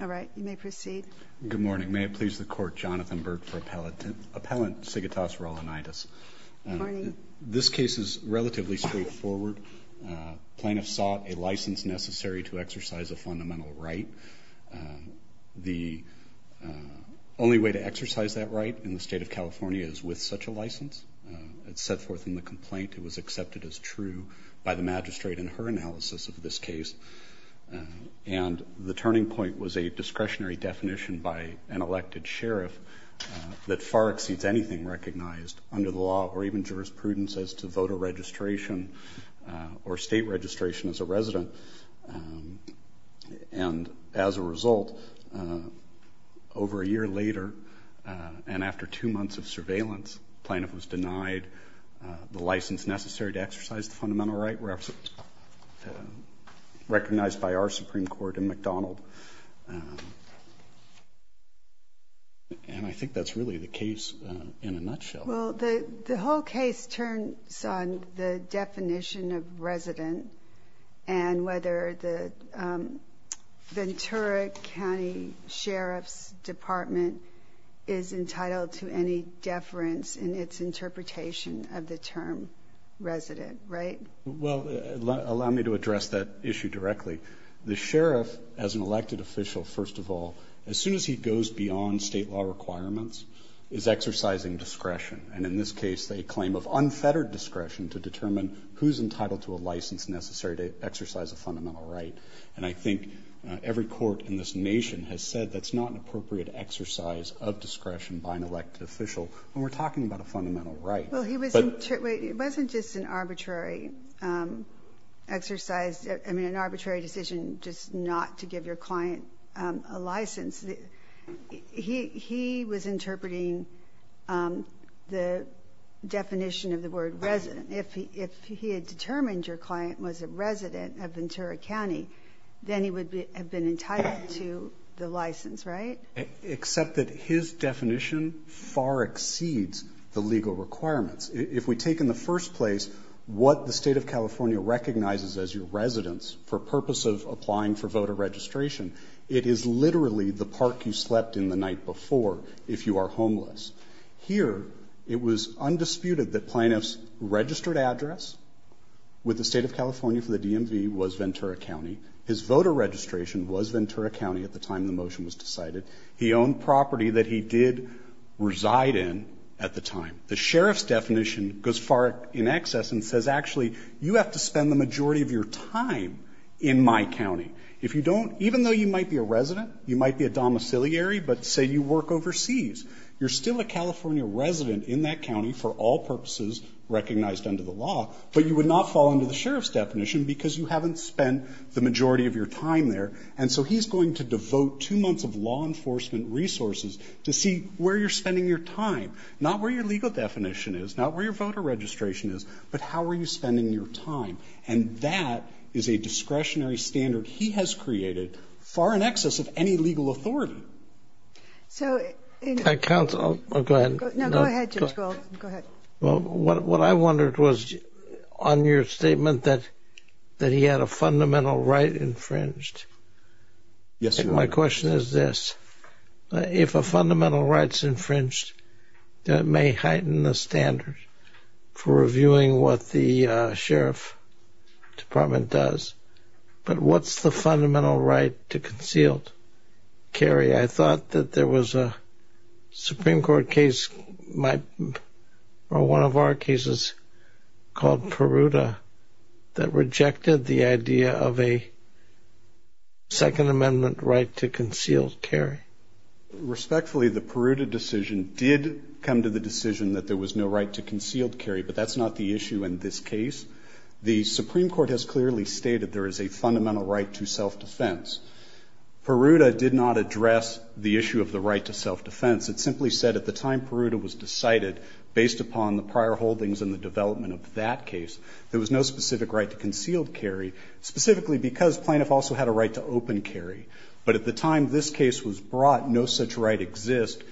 All right, you may proceed. Good morning, may it please the court, Jonathan Burke for Appellant Sigitas Raulinaitis. This case is relatively straightforward. Plaintiffs sought a license necessary to exercise a fundamental right. The only way to exercise that right in the state of California is with such a license. It's set forth in the complaint, it was denied, and the turning point was a discretionary definition by an elected sheriff that far exceeds anything recognized under the law or even jurisprudence as to voter registration or state registration as a resident. And as a result, over a year later and after two months of surveillance, plaintiff was denied the license necessary to exercise the fundamental right recognized by our Supreme Court in McDonald. And I think that's really the case in a nutshell. Well, the whole case turns on the definition of resident and whether the Ventura County Sheriff's Department is entitled to any deference in its interpretation of the term resident, right? Well, allow me to address that issue directly. The sheriff, as an elected official, first of all, as soon as he goes beyond state law requirements, is exercising discretion. And in this case, they claim of unfettered discretion to determine who's entitled to a license necessary to exercise a fundamental right. And I think every court in this nation has said that's not an appropriate exercise of discretion by an elected official when we're talking about a fundamental right. Well, it wasn't just an arbitrary exercise, I mean, an arbitrary decision just not to give your client a license. He was interpreting the definition of the word resident. If he had determined your client was a resident of Ventura County, then he would have been entitled to the license, right? Except that his definition far exceeds the legal requirements. If we take in the first place what the state of California recognizes as your residence for purpose of applying for voter registration, it is literally the park you slept in the night before if you are homeless. Here, it was undisputed that plaintiff's registered address with the state of was Ventura County at the time the motion was decided. He owned property that he did reside in at the time. The sheriff's definition goes far in excess and says, actually, you have to spend the majority of your time in my county. If you don't, even though you might be a resident, you might be a domiciliary, but say you work overseas, you're still a California resident in that county for all purposes recognized under the law, but you would not fall under the sheriff's definition because you haven't spent the majority of your time there. And so he's going to devote two months of law enforcement resources to see where you're spending your time, not where your legal definition is, not where your voter registration is, but how are you spending your time? And that is a discretionary standard he has created far in excess of any legal authority. So, counsel, go ahead. Go ahead. Well, what I wondered was on your statement that that he had a fundamental right infringed. Yes. My question is this. If a fundamental rights infringed, that may heighten the standard for reviewing what the sheriff department does. But what's the fundamental right to concealed carry? I thought that there was a Supreme Court case, my or one of our cases called Peruta that rejected the idea of a second amendment right to concealed carry. Respectfully, the Peruta decision did come to the decision that there was no right to concealed carry, but that's not the issue in this case. The Supreme Court has clearly stated there is a fundamental right to self-defense. Peruta did not address the issue of the right to self-defense. It simply said at the time Peruta was decided based upon the prior holdings and the development of that case, there was no specific right to concealed carry, specifically because plaintiff also had a right to open carry. But at the time this case was brought, no such right exists.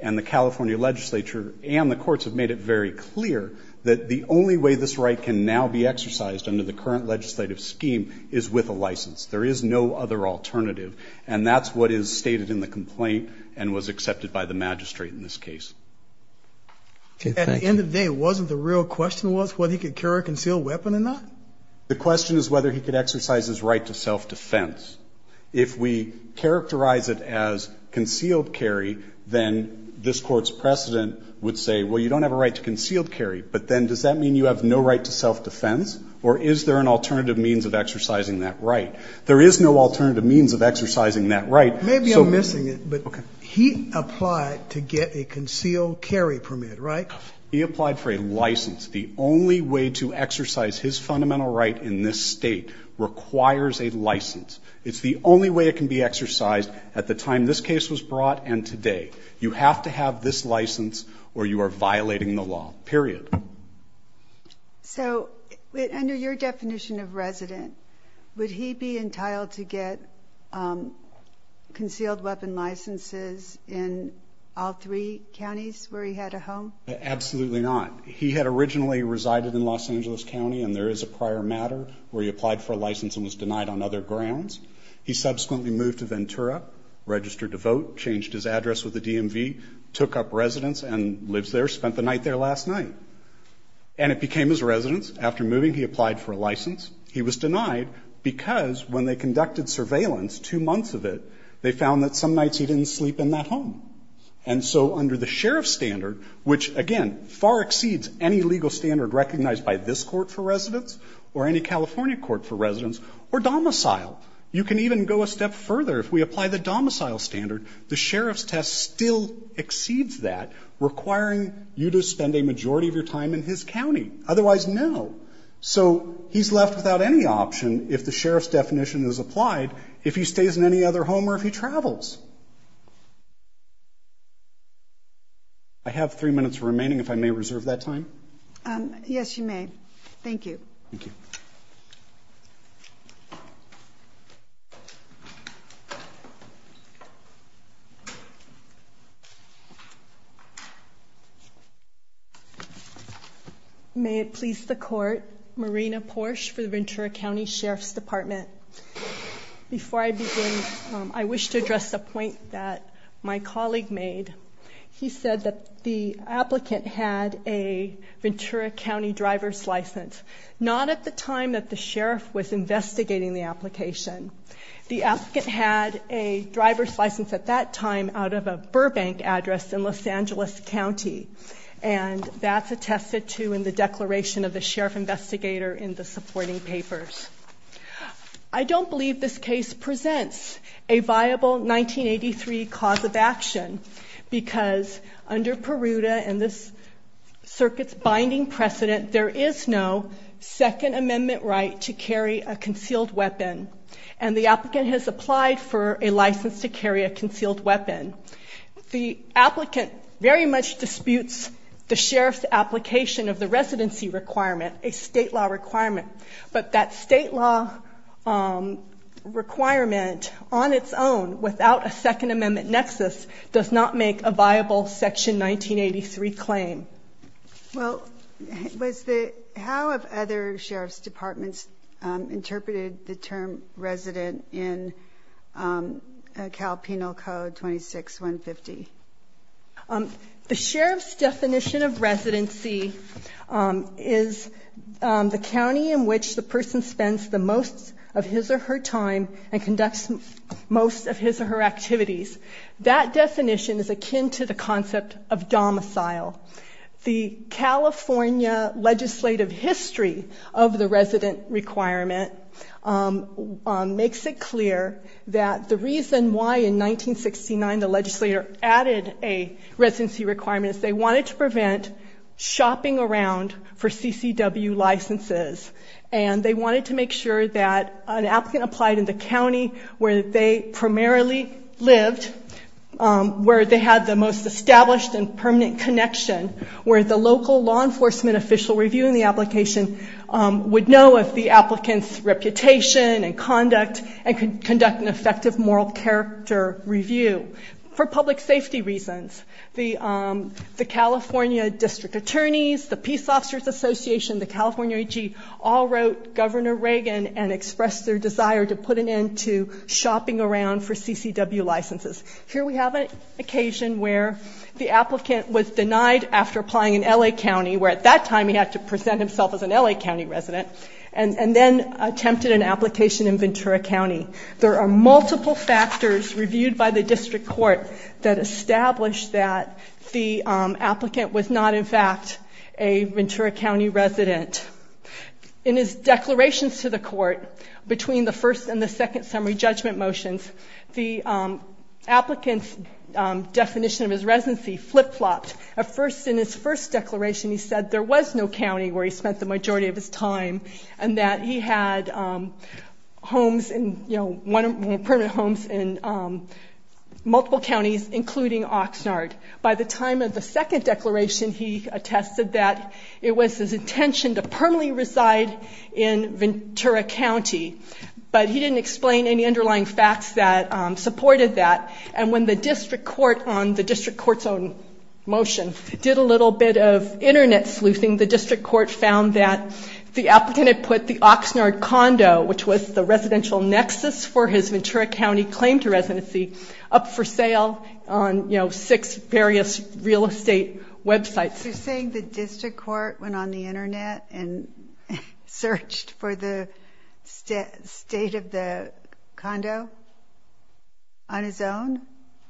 And the California legislature and the courts have made it very clear that the only way this right can now be exercised under the current legislative scheme is with a license. There is no other alternative. And that's what is stated in the complaint and was accepted by the magistrate in this case. At the end of the day, wasn't the real question was whether he could carry a concealed weapon or not? The question is whether he could exercise his right to self-defense. If we characterize it as concealed carry, then this Court's precedent would say, well, you don't have a right to concealed carry, but then does that mean you have no right to self-defense, or is there an alternative means of exercising that right? There is no alternative means of exercising that right. Maybe I'm missing it, but he applied to get a concealed carry permit, right? He applied for a license. The only way to exercise his fundamental right in this state requires a license. It's the only way it can be exercised at the time this case was brought and today. You have to have this license or you are violating the law, period. So, under your definition of resident, would he be entitled to get concealed carry? Absolutely not. He had originally resided in Los Angeles County, and there is a prior matter where he applied for a license and was denied on other grounds. He subsequently moved to Ventura, registered to vote, changed his address with the DMV, took up residence and lives there, spent the night there last night. And it became his residence. After moving, he applied for a license. He was denied because when they conducted surveillance, two months of it, they found that some nights he didn't sleep in that again, far exceeds any legal standard recognized by this court for residence or any California court for residence or domicile. You can even go a step further. If we apply the domicile standard, the sheriff's test still exceeds that, requiring you to spend a majority of your time in his county. Otherwise, no. So, he's left without any option if the sheriff's definition is applied, if he stays in any other home or if he travels. I have three minutes remaining, if I may reserve that time. Yes, you may. Thank you. Thank you. May it please the court, Marina Porsche for the Ventura County Sheriff's Department. Before I begin, I wish to address a point that my colleague made. He said that the applicant had a Ventura County driver's license, not at the time that the sheriff was investigating the application. The applicant had a driver's license at that time out of a Burbank address in Los Angeles County. And that's attested to in the declaration of the sheriff investigator in the supporting papers. I don't believe this case presents a viable 1983 cause of action, because under Peruta and this circuit's binding precedent, there is no Second Amendment right to carry a concealed weapon. And the applicant has applied for a license to carry a concealed weapon. The applicant very much disputes the sheriff's application of the residency requirement, a state law requirement. But that state law requirement on its own without a Second Amendment nexus does not make a viable Section 1983 claim. Well, how have other sheriff's departments interpreted the term resident in Cal County Penal Code 26-150? The sheriff's definition of residency is the county in which the person spends the most of his or her time and conducts most of his or her activities. That definition is akin to the concept of domicile. The California legislative history of the 1969, the legislator added a residency requirement. They wanted to prevent shopping around for CCW licenses. And they wanted to make sure that an applicant applied in the county where they primarily lived, where they had the most established and permanent connection, where the local law enforcement official reviewing the application would know of the applicant's reputation and conduct and review. For public safety reasons, the California District Attorneys, the Peace Officers Association, the California AG all wrote Governor Reagan and expressed their desire to put an end to shopping around for CCW licenses. Here we have an occasion where the applicant was denied after applying in L.A. County, where at that time he had to present himself as an L.A. County resident, and then attempted an application in Ventura County. There are multiple factors reviewed by the district court that established that the applicant was not, in fact, a Ventura County resident. In his declarations to the court, between the first and the second summary judgment motions, the applicant's definition of his residency flip-flopped. At first, in his first declaration, he said there was no county where he spent the majority of his time, and that he had homes in, you know, multiple counties, including Oxnard. By the time of the second declaration, he attested that it was his intention to permanently reside in Ventura County, but he didn't explain any underlying facts that supported that. And when the district court, on the district court's own motion, did a little bit of internet sleuthing, the district court found that the applicant had put the Oxnard condo, which was the residential nexus for his Ventura County claim to residency, up for sale on, you know, six various real estate websites. You're saying the district court went on the internet and searched for the state of the condo on his own,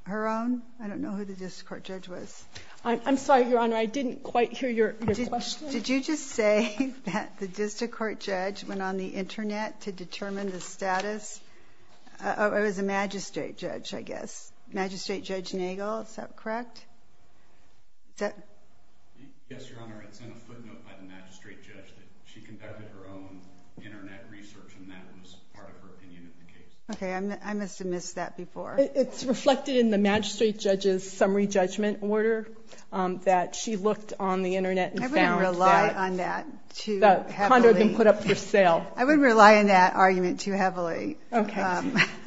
her own? I don't know who the district court judge was. I'm sorry, Your Honor, I didn't quite hear your question. Did you just say that the district court judge went on the internet to determine the status? Oh, it was a magistrate judge, I guess. Magistrate Judge Nagel, is that correct? Yes, Your Honor, it's in a footnote by the magistrate judge that she conducted her own internet research, and that was part of her opinion of the case. Okay, I must have missed that before. It's reflected in the magistrate judge's statement that the condo had been put up for sale. I wouldn't rely on that argument too heavily. Okay.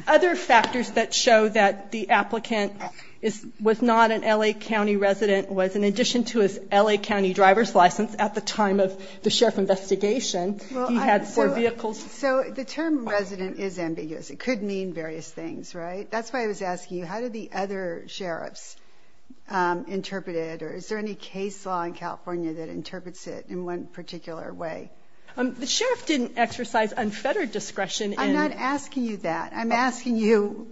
Other factors that show that the applicant was not an L.A. County resident was, in addition to his L.A. County driver's license at the time of the sheriff's investigation, he had four vehicles. So the term resident is ambiguous. It could mean various things, right? That's why I was asking you, how did the other sheriffs interpret it, or is there any case law in it in one particular way? The sheriff didn't exercise unfettered discretion in... I'm not asking you that. I'm asking you,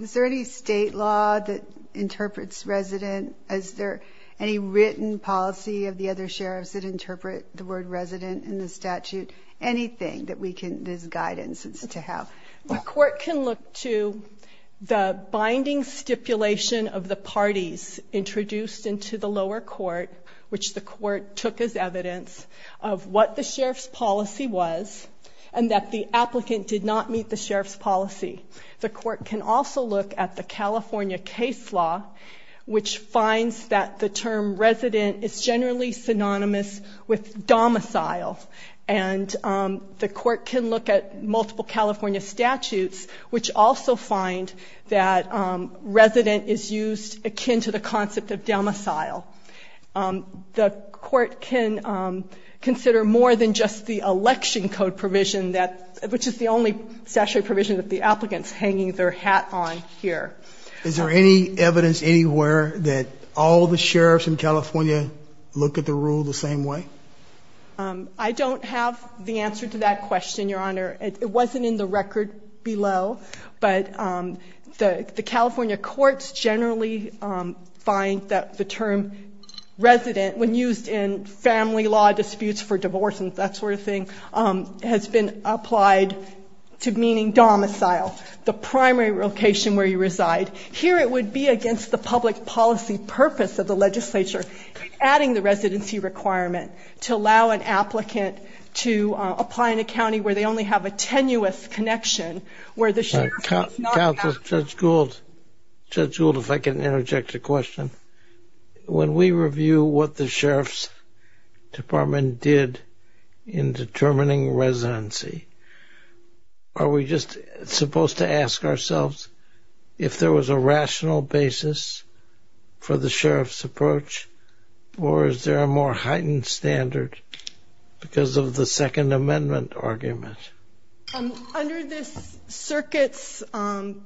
is there any state law that interprets resident? Is there any written policy of the other sheriffs that interpret the word resident in the statute? Anything that we can, there's guidance to have. The court can look to the binding stipulation of the parties introduced into the lower court, which the court took as evidence of what the sheriff's policy was, and that the applicant did not meet the sheriff's policy. The court can also look at the California case law, which finds that the term resident is generally synonymous with domicile. And the court can look at multiple California statutes, which also find that resident is used akin to the concept of domicile. The court can consider more than just the election code provision, which is the only statutory provision that the applicant's hanging their hat on here. Is there any evidence anywhere that all the sheriffs in California look at the rule the same way? I don't have the answer to that question, Your Honor. It wasn't in the record below, but the California courts generally find that the term resident, when used in family law disputes for divorce and that sort of thing, has been applied to meaning domicile, the primary location where you reside. Here it would be against the public policy purpose of the legislature, adding the residency requirement to allow an applicant to apply in a county where they only have a tenuous connection, where the sheriff Judge Gould, if I can interject a question. When we review what the sheriff's department did in determining residency, are we just supposed to ask ourselves if there was a rational basis for the sheriff's approach, or is there a more heightened standard because of the Second Amendment argument? Under this circuit's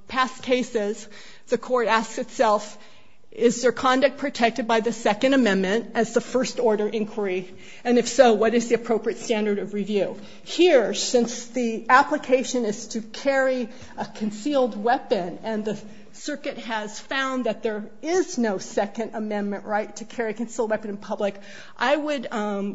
past cases, the court asks itself, is their conduct protected by the Second Amendment as the first order inquiry? And if so, what is the appropriate standard of review? Here, since the application is to carry a concealed weapon and the circuit has found that there is no Second Amendment right to carry a concealed weapon in public, I would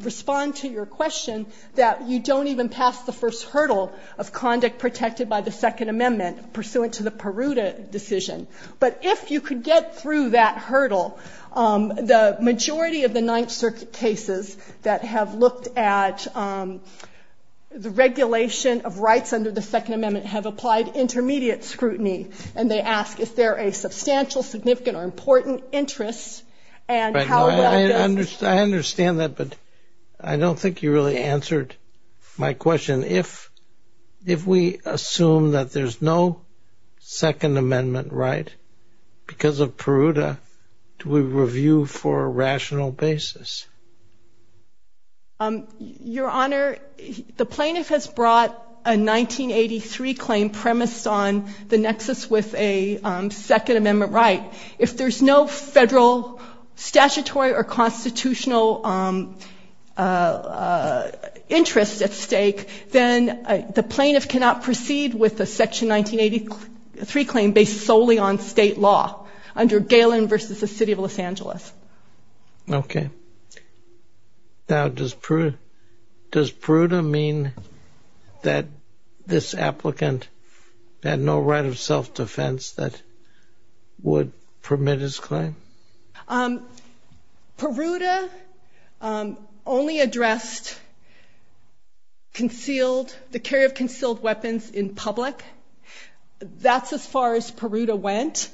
respond to your question that you don't even pass the first hurdle of conduct protected by the Second Amendment pursuant to the Peruta decision. But if you could get through that hurdle, the majority of the Ninth Circuit cases that have looked at the regulation of rights under the Second Amendment have applied intermediate scrutiny. And they ask, is there a substantial, significant, or important interest, and how would that be? I understand that, but I don't think you really answered my question. If we assume that there's no Second Amendment right because of Peruta, do we review for a rational basis? Your Honor, the plaintiff has brought a 1983 claim premised on the nexus with a Second Amendment right. If there's no federal, statutory, or constitutional interest at stake, then the plaintiff cannot proceed with a Section 1983 claim based solely on state law under Galen v. the City of Los Angeles. Okay. Now, does Peruta mean that this applicant had no right of self-defense that would permit his claim? Peruta only addressed concealed, the carry of concealed weapons in public. That's as far as Peruta went.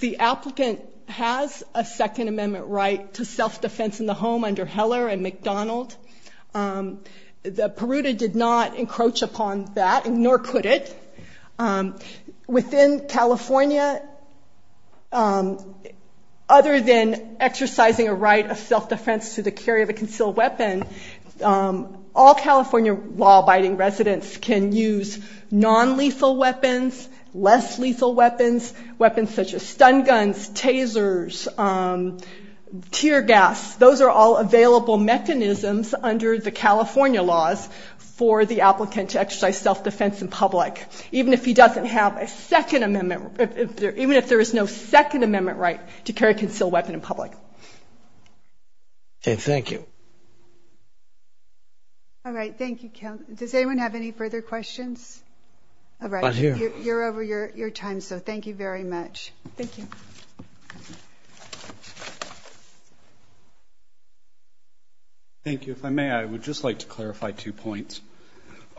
The applicant has a Second Amendment right to self-defense in the home under Heller and McDonald. Peruta did not encroach upon that, nor could it. Within California, other than exercising a right of self-defense to the carry of a concealed weapon, all California law-abiding residents can use non-lethal weapons, less lethal weapons, weapons such as stun guns, tasers, tear gas. Those are all available mechanisms under the Second Amendment, even if there is no Second Amendment right to carry a concealed weapon in public. Okay. Thank you. All right. Thank you, Kel. Does anyone have any further questions? Not here. All right. You're over your time, so thank you very much. Thank you. Thank you. If I may, I would just like to clarify two points.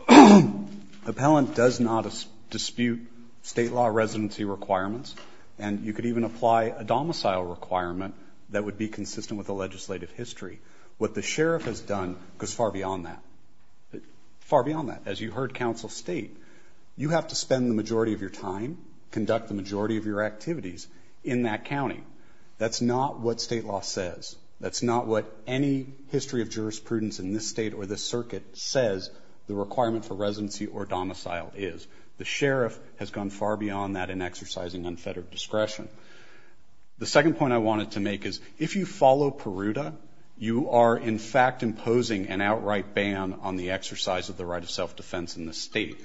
Appellant does not dispute state law residency requirements, and you could even apply a domicile requirement that would be consistent with the legislative history. What the sheriff has done goes far beyond that, far beyond that. As you heard counsel state, you have to spend the majority of your time, conduct the majority of your activities in that county. That's not what state law says. That's not what any history of jurisprudence in this state or this circuit says the requirement for residency or domicile is. The sheriff has gone far beyond that in exercising unfettered discretion. The second point I wanted to make is, if you follow PERUDA, you are, in fact, imposing an outright ban on the exercise of the right of self-defense in the state.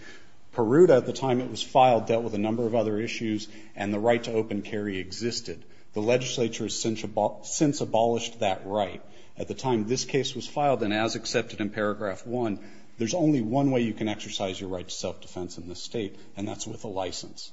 PERUDA, at the time it was filed, dealt with a number of other issues, and the right to open carry existed. The legislature has since abolished that right. At the time this case was filed, and as accepted in paragraph one, there's only one way you can exercise your right to self-defense in this state, and that's with a license.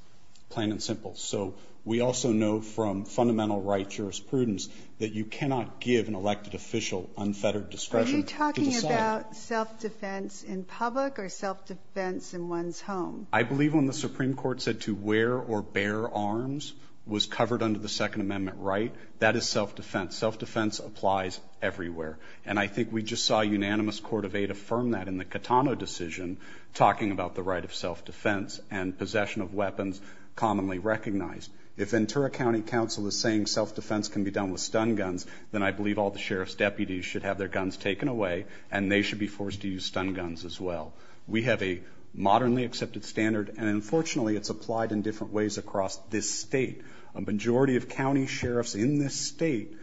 Plain and simple. So we also know from fundamental right jurisprudence that you cannot give an elected official unfettered discretion to decide. What about self-defense in public or self-defense in one's home? I believe when the Supreme Court said to wear or bear arms was covered under the Second Amendment right, that is self-defense. Self-defense applies everywhere. And I think we just saw a unanimous court of eight affirm that in the Catano decision, talking about the right of self-defense and possession of weapons commonly recognized. If Ventura County Council is saying self-defense can be done with stun guns, then I believe all the sheriff's deputies should have their guns taken away, and they should be forced to use stun guns as well. We have a modernly accepted standard, and unfortunately it's applied in different ways across this state. A majority of county sheriffs in this state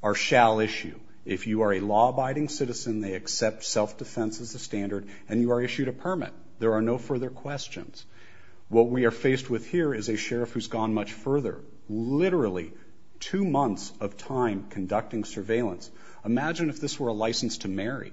are shall issue. If you are a law-abiding citizen, they accept self-defense as a standard, and you are issued a permit. There are no further questions. What we are faced with here is a sheriff who's gone much further. Literally two months of time conducting surveillance. Imagine if this were a license to marry.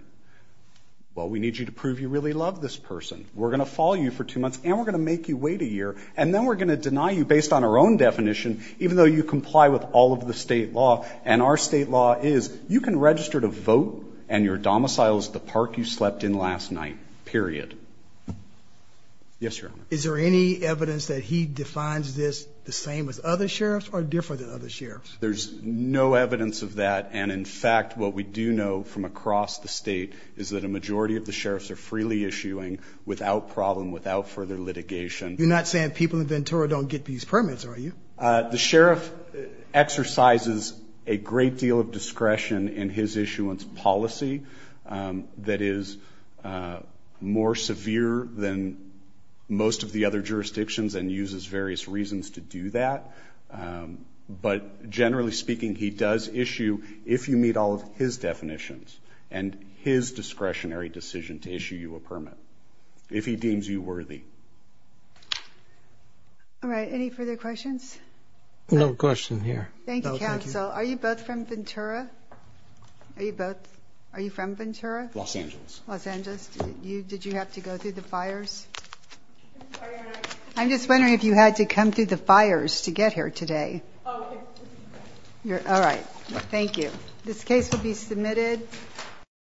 Well, we need you to prove you really love this person. We're going to follow you for two months, and we're going to make you wait a year, and then we're going to deny you based on our own definition, even though you comply with all of the state law. And our state law is you can register to vote, and your domicile is the park you slept in last night, period. Yes, Your Honor. Is there any evidence that he defines this the same as other sheriffs or different than other sheriffs? There's no evidence of that. And, in fact, what we do know from across the state is that a majority of the sheriffs are freely issuing without problem, without further litigation. You're not saying people in Ventura don't get these permits, are you? The sheriff exercises a great deal of discretion in his issuance policy that is more severe than most of the other jurisdictions and uses various reasons to do that. But, generally speaking, he does issue, if you meet all of his definitions and his discretionary decision to issue you a permit, if he deems you worthy. All right. Any further questions? No question here. Thank you, counsel. Are you both from Ventura? Are you both from Ventura? Los Angeles. Los Angeles. Did you have to go through the fires? I'm just wondering if you had to come through the fires to get here today. Oh, yes. All right. Thank you. This case will be submitted.